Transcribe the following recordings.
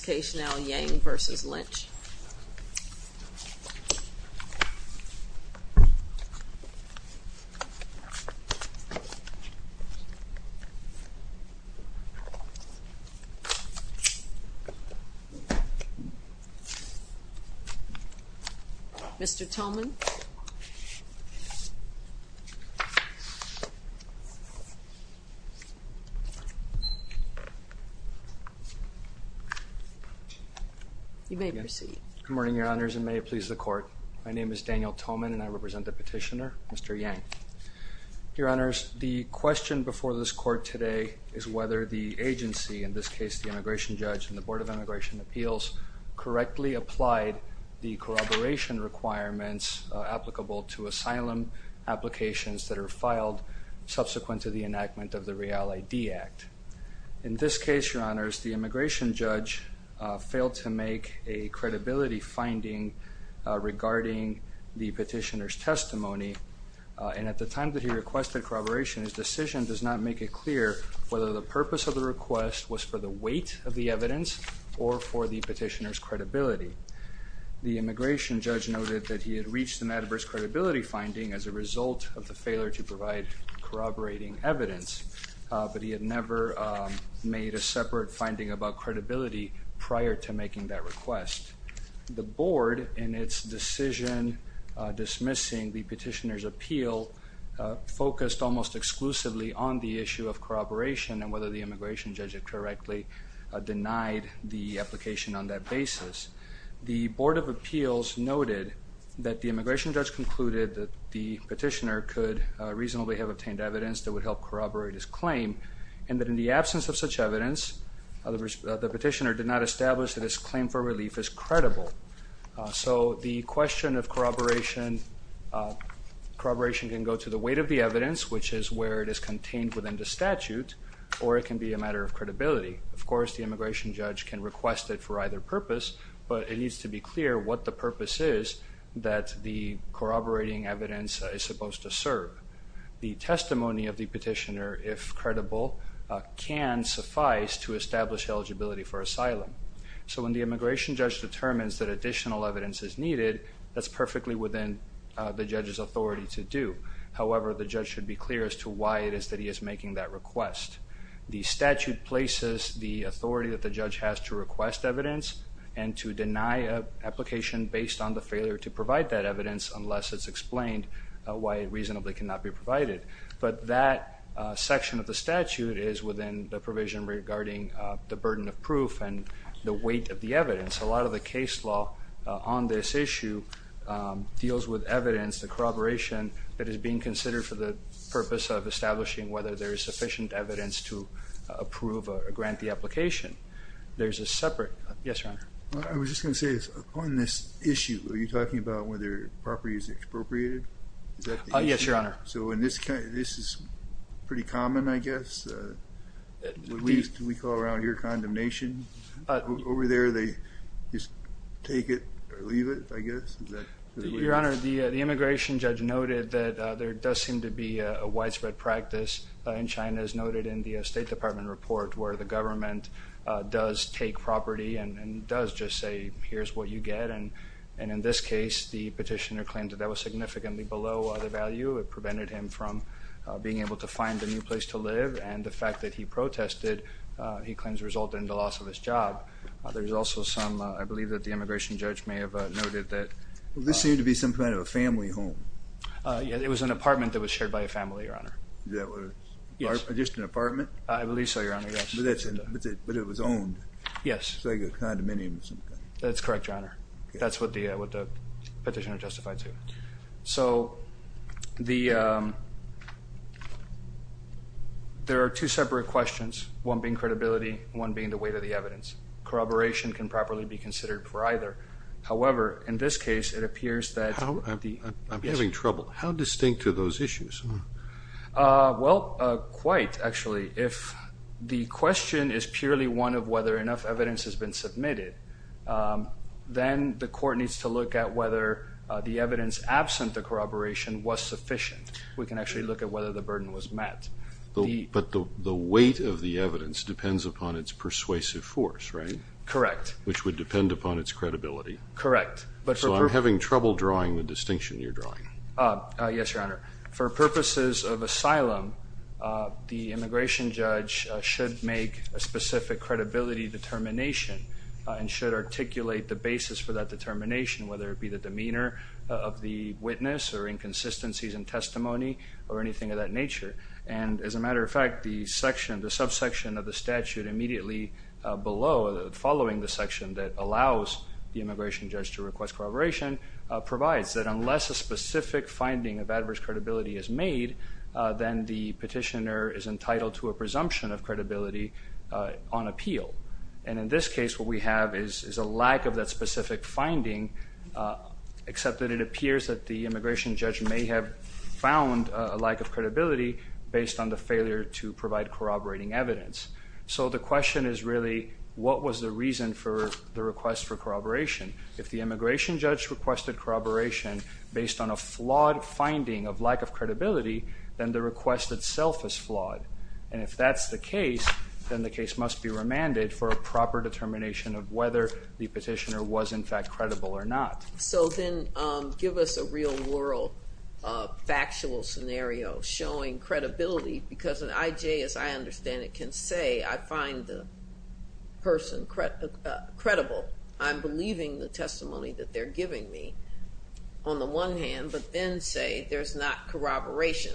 Case now, Yang v. Lynch Mr. Tolman You may proceed. Good morning, Your Honors, and may it please the Court. My name is Daniel Tolman and I represent the petitioner, Mr. Yang. Your Honors, the question before this Court today is whether the agency, in this case the immigration judge and the Board of Immigration Appeals, correctly applied the corroboration requirements applicable to asylum applications that are filed subsequent to the enactment of the Real ID Act. In this case, Your Honors, the immigration judge failed to make a credibility finding regarding the petitioner's testimony and at the time that he requested corroboration, his decision does not make it clear whether the purpose of the request was for the weight of the evidence or for the petitioner's credibility. The immigration judge noted that he had reached an adverse credibility finding as a result of the failure to provide corroborating evidence, but he had never made a separate finding about credibility prior to making that request. The Board, in its decision dismissing the petitioner's appeal, focused almost exclusively on the issue of corroboration and whether the immigration judge had correctly denied the application on that basis. The Board of Appeals noted that the immigration judge concluded that the petitioner could reasonably have obtained evidence that would help corroborate his claim and that in the absence of such evidence, the petitioner did not establish that his claim for relief is credible. So the question of corroboration can go to the weight of the evidence, which is where it is contained within the statute, or it can be a matter of credibility. Of course, the immigration judge can request it for either purpose, but it needs to be clear what the purpose is that the corroborating evidence is supposed to serve. The testimony of the petitioner, if credible, can suffice to establish eligibility for asylum. So when the immigration judge determines that additional evidence is needed, that's perfectly within the judge's authority to do. However, the judge should be clear as to why it is that he is making that request. The statute places the authority that the judge has to request evidence unless it's explained why it reasonably cannot be provided. But that section of the statute is within the provision regarding the burden of proof and the weight of the evidence. A lot of the case law on this issue deals with evidence, the corroboration that is being considered for the purpose of establishing whether there is sufficient evidence to approve or grant the application. Yes, Your Honor. I was just going to say, on this issue, are you talking about whether property is expropriated? Yes, Your Honor. This is pretty common, I guess. We call around here condemnation. Over there they just take it or leave it, I guess. Your Honor, the immigration judge noted that there does seem to be a widespread practice in China as noted in the State Department report where the government does take property and does just say, here's what you get. And in this case, the petitioner claimed that that was significantly below the value. It prevented him from being able to find a new place to live. And the fact that he protested, he claims, resulted in the loss of his job. There's also some, I believe that the immigration judge may have noted that. This seemed to be some kind of a family home. It was an apartment that was shared by a family, Your Honor. Just an apartment? I believe so, Your Honor. But it was owned? Yes. Like a condominium or something? That's correct, Your Honor. That's what the petitioner justified to. So, there are two separate questions, one being credibility, one being the weight of the evidence. Corroboration can properly be considered for either. However, in this case, it appears that the I'm having trouble. How distinct are those issues? Well, quite, actually. If the question is purely one of whether enough evidence has been submitted, then the court needs to look at whether the evidence absent the corroboration was sufficient. We can actually look at whether the burden was met. But the weight of the evidence depends upon its persuasive force, right? Correct. Which would depend upon its credibility. Correct. So, I'm having trouble drawing the distinction you're drawing. Yes, Your Honor. For purposes of asylum, the immigration judge should make a specific credibility determination and should articulate the basis for that determination, whether it be the demeanor of the witness or inconsistencies in testimony or anything of that nature. And, as a matter of fact, the subsection of the statute immediately below, following the section that allows the immigration judge to request corroboration, provides that unless a specific finding of adverse credibility is made, then the petitioner is entitled to a presumption of credibility on appeal. And in this case, what we have is a lack of that specific finding, except that it appears that the immigration judge may have found a lack of credibility based on the failure to provide corroborating evidence. So the question is really, what was the reason for the request for corroboration? If the immigration judge requested corroboration based on a flawed finding of lack of credibility, then the request itself is flawed. And if that's the case, then the case must be remanded for a proper determination of whether the petitioner was, in fact, credible or not. So then give us a real world factual scenario showing credibility, because an IJ, as I understand it, can say, I find the person credible. I'm believing the testimony that they're giving me on the one hand, but then say there's not corroboration.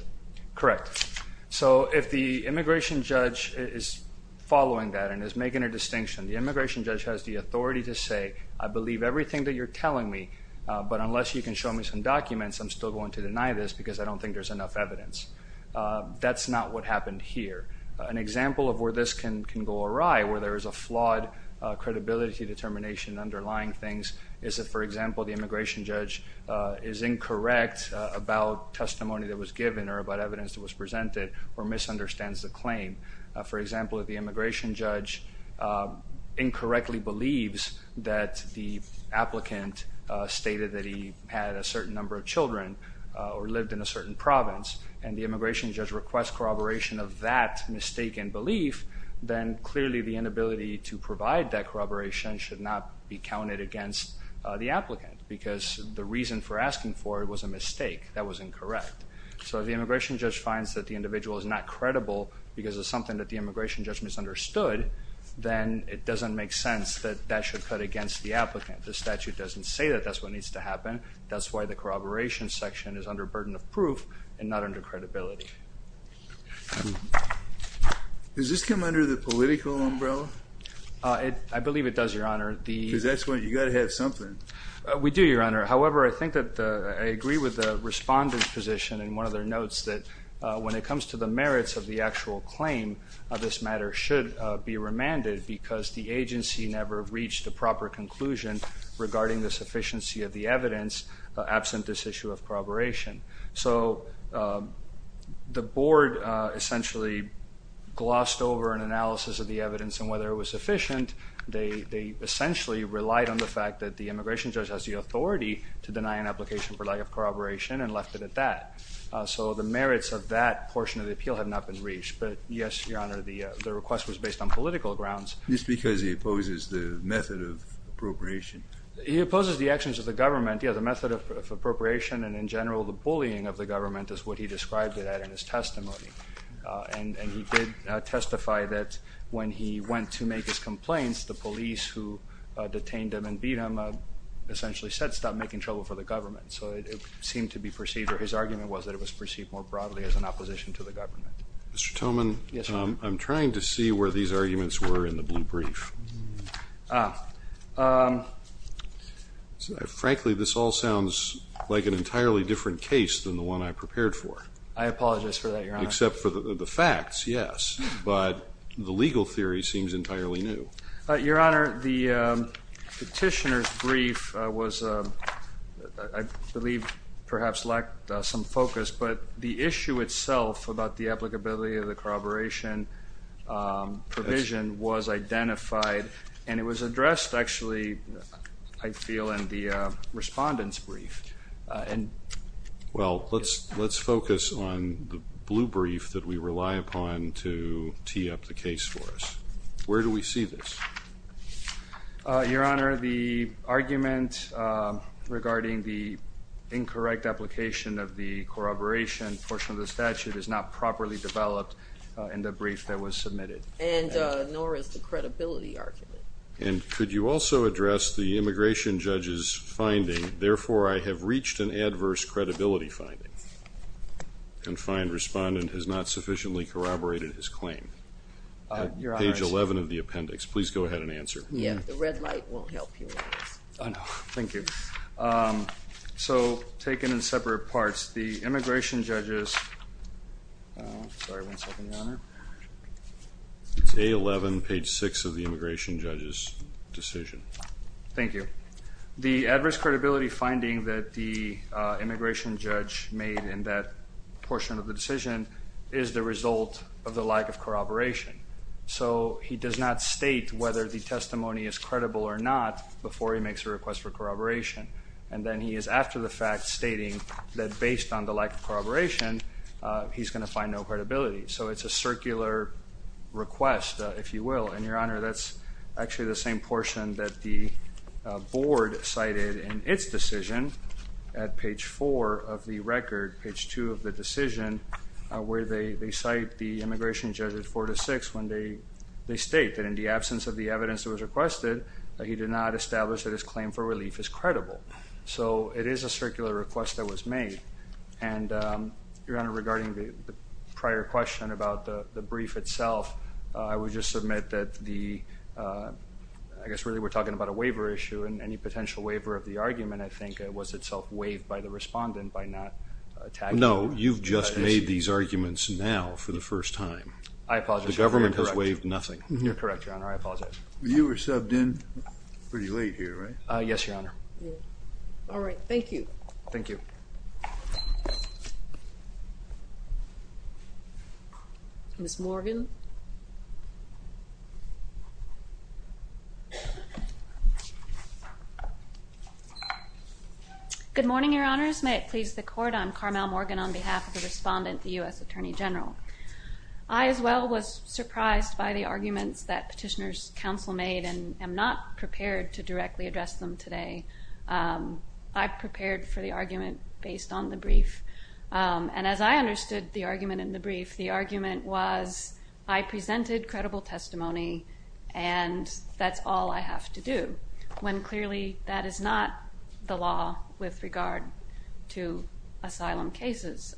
Correct. So if the immigration judge is following that and is making a distinction, the immigration judge has the authority to say, I believe everything that you're telling me, but unless you can show me some documents, I'm still going to deny this because I don't think there's enough evidence. That's not what happened here. An example of where this can go awry, where there is a flawed credibility determination underlying things, is that, for example, the immigration judge is incorrect about testimony that was given or about evidence that was presented or misunderstands the claim. For example, if the immigration judge incorrectly believes that the applicant stated that he had a certain number of children or lived in a certain province and the immigration judge requests corroboration of that mistaken belief, then clearly the inability to provide that corroboration should not be counted against the applicant because the reason for asking for it was a mistake. That was incorrect. So if the immigration judge finds that the individual is not credible because of something that the immigration judge misunderstood, then it doesn't make sense that that should cut against the applicant. The statute doesn't say that that's what needs to happen. That's why the corroboration section is under burden of proof and not under credibility. Does this come under the political umbrella? I believe it does, Your Honor. Because that's when you've got to have something. We do, Your Honor. However, I think that I agree with the respondent's position in one of their notes that when it comes to the merits of the actual claim, this matter should be remanded because the agency never reached a proper conclusion regarding the sufficiency of the evidence absent this issue of corroboration. So the board essentially glossed over an analysis of the evidence and whether it was sufficient. They essentially relied on the fact that the immigration judge has the authority to deny an application for lack of corroboration and left it at that. So the merits of that portion of the appeal have not been reached. But, yes, Your Honor, the request was based on political grounds. Just because he opposes the method of appropriation. He opposes the actions of the government. Yes, the method of appropriation and, in general, the bullying of the government is what he described it at in his testimony. And he did testify that when he went to make his complaints, the police who detained him and beat him essentially said, stop making trouble for the government. So it seemed to be perceived, or his argument was that it was perceived more broadly as an opposition to the government. Mr. Toman, I'm trying to see where these arguments were in the blue brief. Frankly, this all sounds like an entirely different case than the one I prepared for. I apologize for that, Your Honor. Except for the facts, yes. But the legal theory seems entirely new. Your Honor, the petitioner's brief was, I believe, perhaps lacked some focus. But the issue itself about the applicability of the corroboration provision was identified, and it was addressed, actually, I feel, in the respondent's brief. Well, let's focus on the blue brief that we rely upon to tee up the case for us. Where do we see this? Your Honor, the argument regarding the incorrect application of the corroboration portion of the statute is not properly developed in the brief that was submitted. Nor is the credibility argument. And could you also address the immigration judge's finding, therefore I have reached an adverse credibility finding. The confined respondent has not sufficiently corroborated his claim. Your Honor. Page 11 of the appendix. Please go ahead and answer. Yes. The red light won't help you. Oh, no. Thank you. So, taken in separate parts, the immigration judge's, sorry, one second, Your Honor. It's A11, page 6 of the immigration judge's decision. Thank you. The adverse credibility finding that the immigration judge made in that portion of the decision is the result of the lack of corroboration. So he does not state whether the testimony is credible or not before he makes a request for corroboration. And then he is after the fact stating that based on the lack of corroboration, he's going to find no credibility. So it's a circular request, if you will. And, Your Honor, that's actually the same portion that the board cited in its decision at page 4 of the record, page 2 of the decision, where they cite the immigration judge at 4 to 6, when they state that in the absence of the evidence that was requested, that he did not establish that his claim for relief is credible. So it is a circular request that was made. And, Your Honor, regarding the prior question about the brief itself, I would just submit that the, I guess really we're talking about a waiver issue, and any potential waiver of the argument, I think, was itself waived by the respondent by not tagging. No, you've just made these arguments now for the first time. I apologize. The government has waived nothing. You're correct, Your Honor. I apologize. You were subbed in pretty late here, right? Yes, Your Honor. All right. Thank you. Thank you. Ms. Morgan. Good morning, Your Honors. May it please the Court. I'm Carmel Morgan on behalf of the respondent, the U.S. Attorney General. I, as well, was surprised by the arguments that Petitioner's Counsel made and am not prepared to directly address them today. I prepared for the argument based on the brief. And as I understood the argument in the brief, the argument was, I presented credible testimony and that's all I have to do, when clearly that is not the law with regard to asylum cases.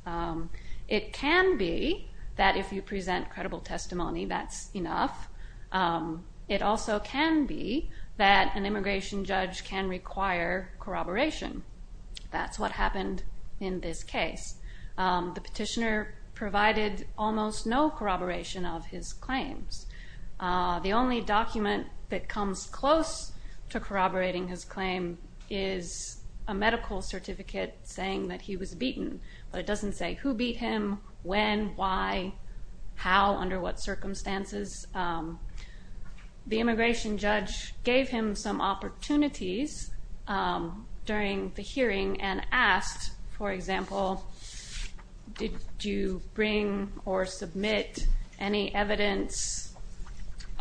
It can be that if you present credible testimony, that's enough. It also can be that an immigration judge can require corroboration. That's what happened in this case. The petitioner provided almost no corroboration of his claims. The only document that comes close to corroborating his claim is a medical certificate saying that he was beaten. But it doesn't say who beat him, when, why, how, under what circumstances. The immigration judge gave him some opportunities during the hearing and asked, for example, did you bring or submit any evidence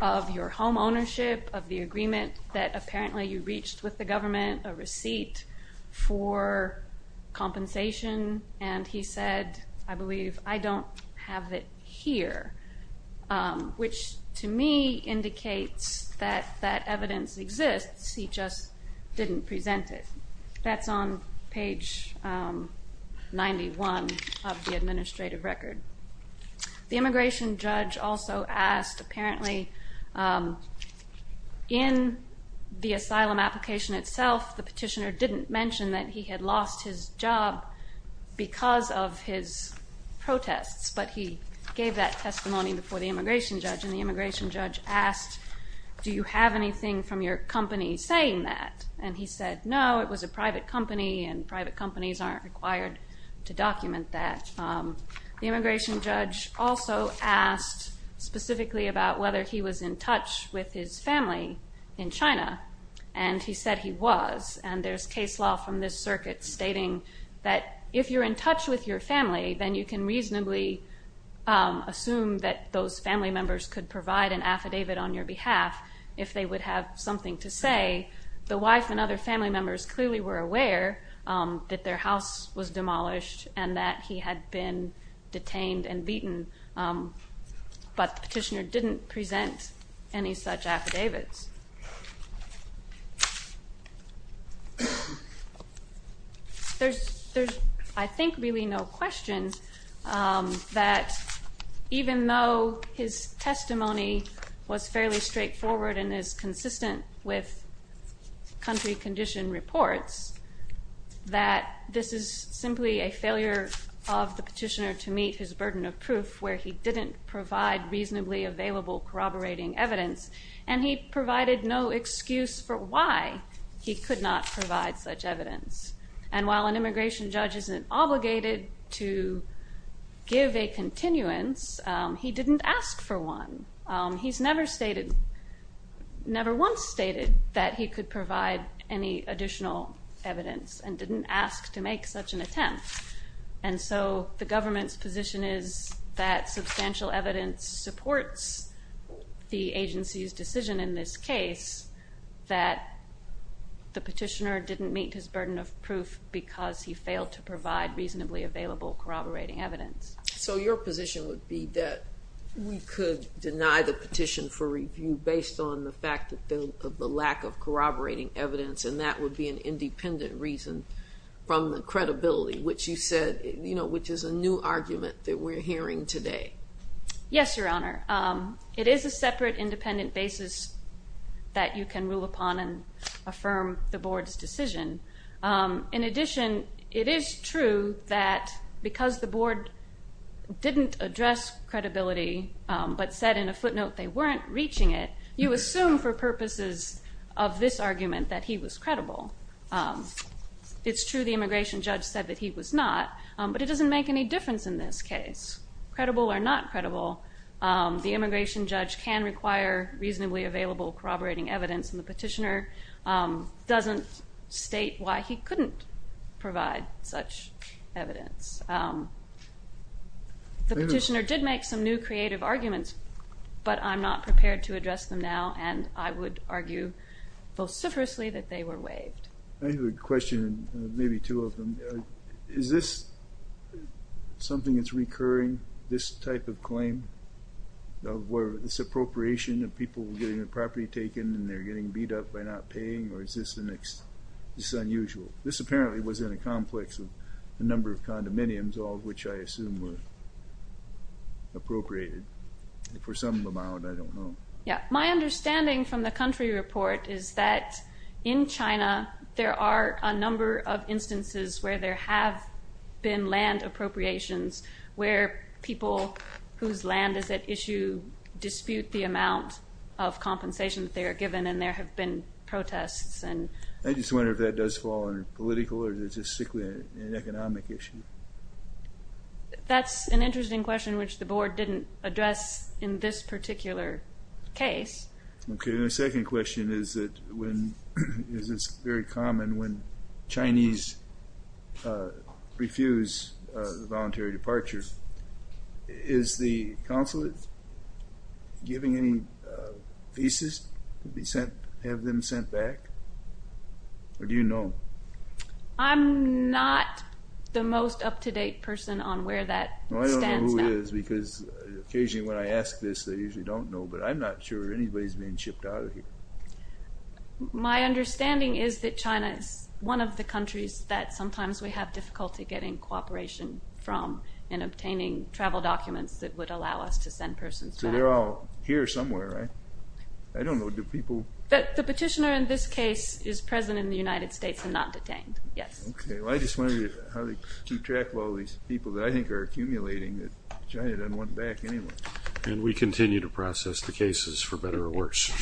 of your home ownership, of the agreement that apparently you reached with the government, a receipt for compensation? And he said, I believe, I don't have it here, which to me indicates that that evidence exists, he just didn't present it. That's on page 91 of the administrative record. The immigration judge also asked, apparently, in the asylum application itself, the petitioner didn't mention that he had lost his job because of his protests, but he gave that testimony before the immigration judge, and the immigration judge asked, do you have anything from your company saying that? And he said, no, it was a private company, and private companies aren't required to document that. The immigration judge also asked specifically about whether he was in touch with his family in China, and he said he was, and there's case law from this circuit stating that if you're in touch with your family, then you can reasonably assume that those family members could provide an affidavit on your behalf if they would have something to say. The wife and other family members clearly were aware that their house was demolished and that he had been detained and beaten, but the petitioner didn't present any such affidavits. There's, I think, really no question that even though his testimony was fairly straightforward and is consistent with country condition reports, that this is simply a failure of the petitioner to meet his burden of proof where he didn't provide reasonably available corroborating evidence, and he provided no excuse for why he could not provide such evidence, and while an immigration judge isn't obligated to give a continuance, he didn't ask for one. He's never stated, never once stated that he could provide any additional evidence and didn't ask to make such an attempt, and so the government's position is that substantial evidence supports the agency's decision in this case that the petitioner didn't meet his burden of proof because he failed to provide reasonably available corroborating evidence. So your position would be that we could deny the petition for review based on the fact of the lack of corroborating evidence, and that would be an independent reason from the credibility, which you said, you know, which is a new argument that we're hearing today. Yes, Your Honor. It is a separate independent basis that you can rule upon and affirm the board's decision. In addition, it is true that because the board didn't address credibility but said in a footnote they weren't reaching it, you assume for purposes of this argument that he was credible. It's true the immigration judge said that he was not, but it doesn't make any difference in this case, credible or not credible. The immigration judge can require reasonably available corroborating evidence, and the petitioner doesn't state why he couldn't provide such evidence. The petitioner did make some new creative arguments, but I'm not prepared to address them now, and I would argue vociferously that they were waived. I have a question, maybe two of them. Is this something that's recurring, this type of claim, where this appropriation of people getting their property taken and they're getting beat up by not paying, or is this unusual? This apparently was in a complex of a number of condominiums, all of which I assume were appropriated. For some amount, I don't know. My understanding from the country report is that in China there are a number of instances where there have been land appropriations where people whose land is at issue dispute the amount of compensation that they are given and there have been protests. I just wonder if that does fall under political or is it just strictly an economic issue? That's an interesting question, which the board didn't address in this particular case. My second question is that is this very common when Chinese refuse the voluntary departure? Is the consulate giving any visas to have them sent back? Or do you know? I'm not the most up-to-date person on where that stands now. I don't know who it is because occasionally when I ask this they usually don't know, but I'm not sure anybody's been shipped out of here. My understanding is that China is one of the countries that sometimes we have difficulty getting cooperation from and obtaining travel documents that would allow us to send persons back. So they're all here somewhere, right? I don't know, do people... The petitioner in this case is present in the United States and not detained, yes. Okay, well I just wondered how they keep track of all these people that I think are accumulating that China doesn't want back anyway. And we continue to process the cases for better or worse.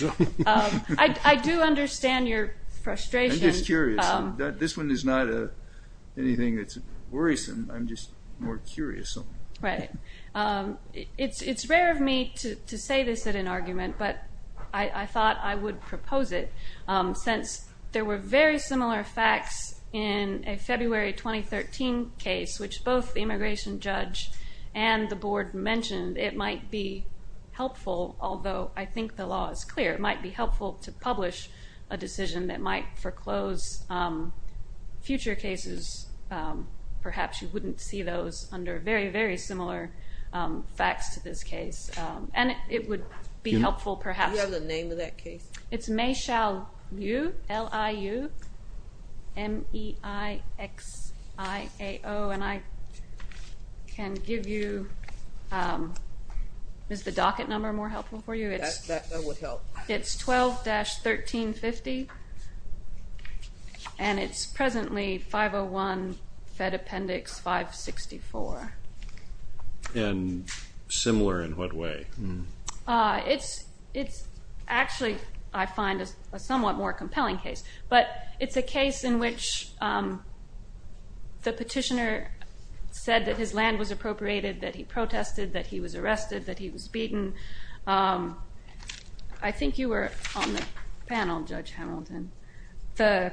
I do understand your frustration. I'm just curious. This one is not anything that's worrisome. I'm just more curious. Right. It's rare of me to say this at an argument, but I thought I would propose it since there were very similar facts in a February 2013 case, which both the immigration judge and the board mentioned it might be helpful, although I think the law is clear. It might be helpful to publish a decision that might foreclose future cases. Perhaps you wouldn't see those under very, very similar facts to this case, and it would be helpful perhaps. Do you have the name of that case? It's Meixiao Liu, M-E-I-X-I-A-O. And I can give you the docket number more helpful for you. That would help. It's 12-1350, and it's presently 501 Fed Appendix 564. And similar in what way? It's actually, I find, a somewhat more compelling case. But it's a case in which the petitioner said that his land was appropriated, that he protested, that he was arrested, that he was beaten. I think you were on the panel, Judge Hamilton. The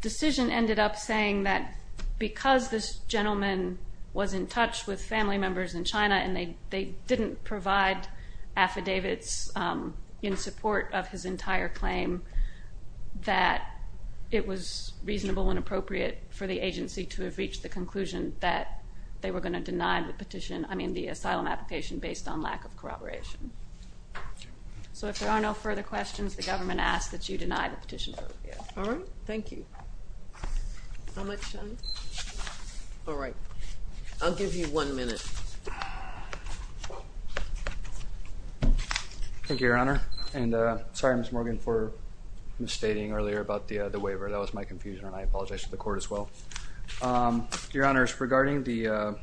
decision ended up saying that because this gentleman was in touch with family to provide affidavits in support of his entire claim, that it was reasonable and appropriate for the agency to have reached the conclusion that they were going to deny the petition, I mean the asylum application, based on lack of corroboration. So if there are no further questions, the government asks that you deny the petition. All right. Thank you. How much time? All right. I'll give you one minute. Thank you, Your Honor. And sorry, Ms. Morgan, for misstating earlier about the waiver. That was my confusion, and I apologize to the court as well. Your Honors, regarding the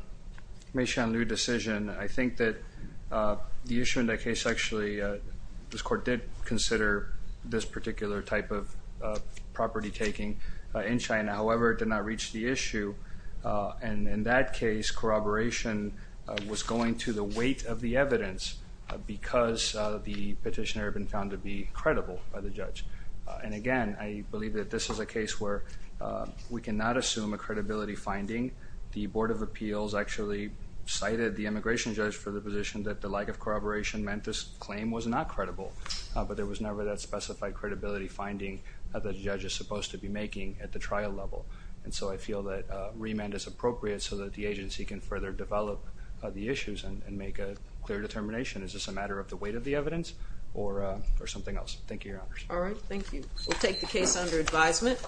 Mei Shan Liu decision, I think that the issue in that case actually, this court did consider this particular type of property taking in China. However, it did not reach the issue, and in that case, corroboration was going to the weight of the evidence because the petitioner had been found to be credible by the judge. And again, I believe that this is a case where we cannot assume a credibility finding. The Board of Appeals actually cited the immigration judge for the position that the lack of corroboration meant this claim was not credible, but there was never that specified credibility finding that the judge is supposed to be making at the trial level. And so I feel that remand is appropriate so that the agency can further develop the issues and make a clear determination. Is this a matter of the weight of the evidence or something else? Thank you, Your Honors. All right. Thank you. We'll take the case under advisement.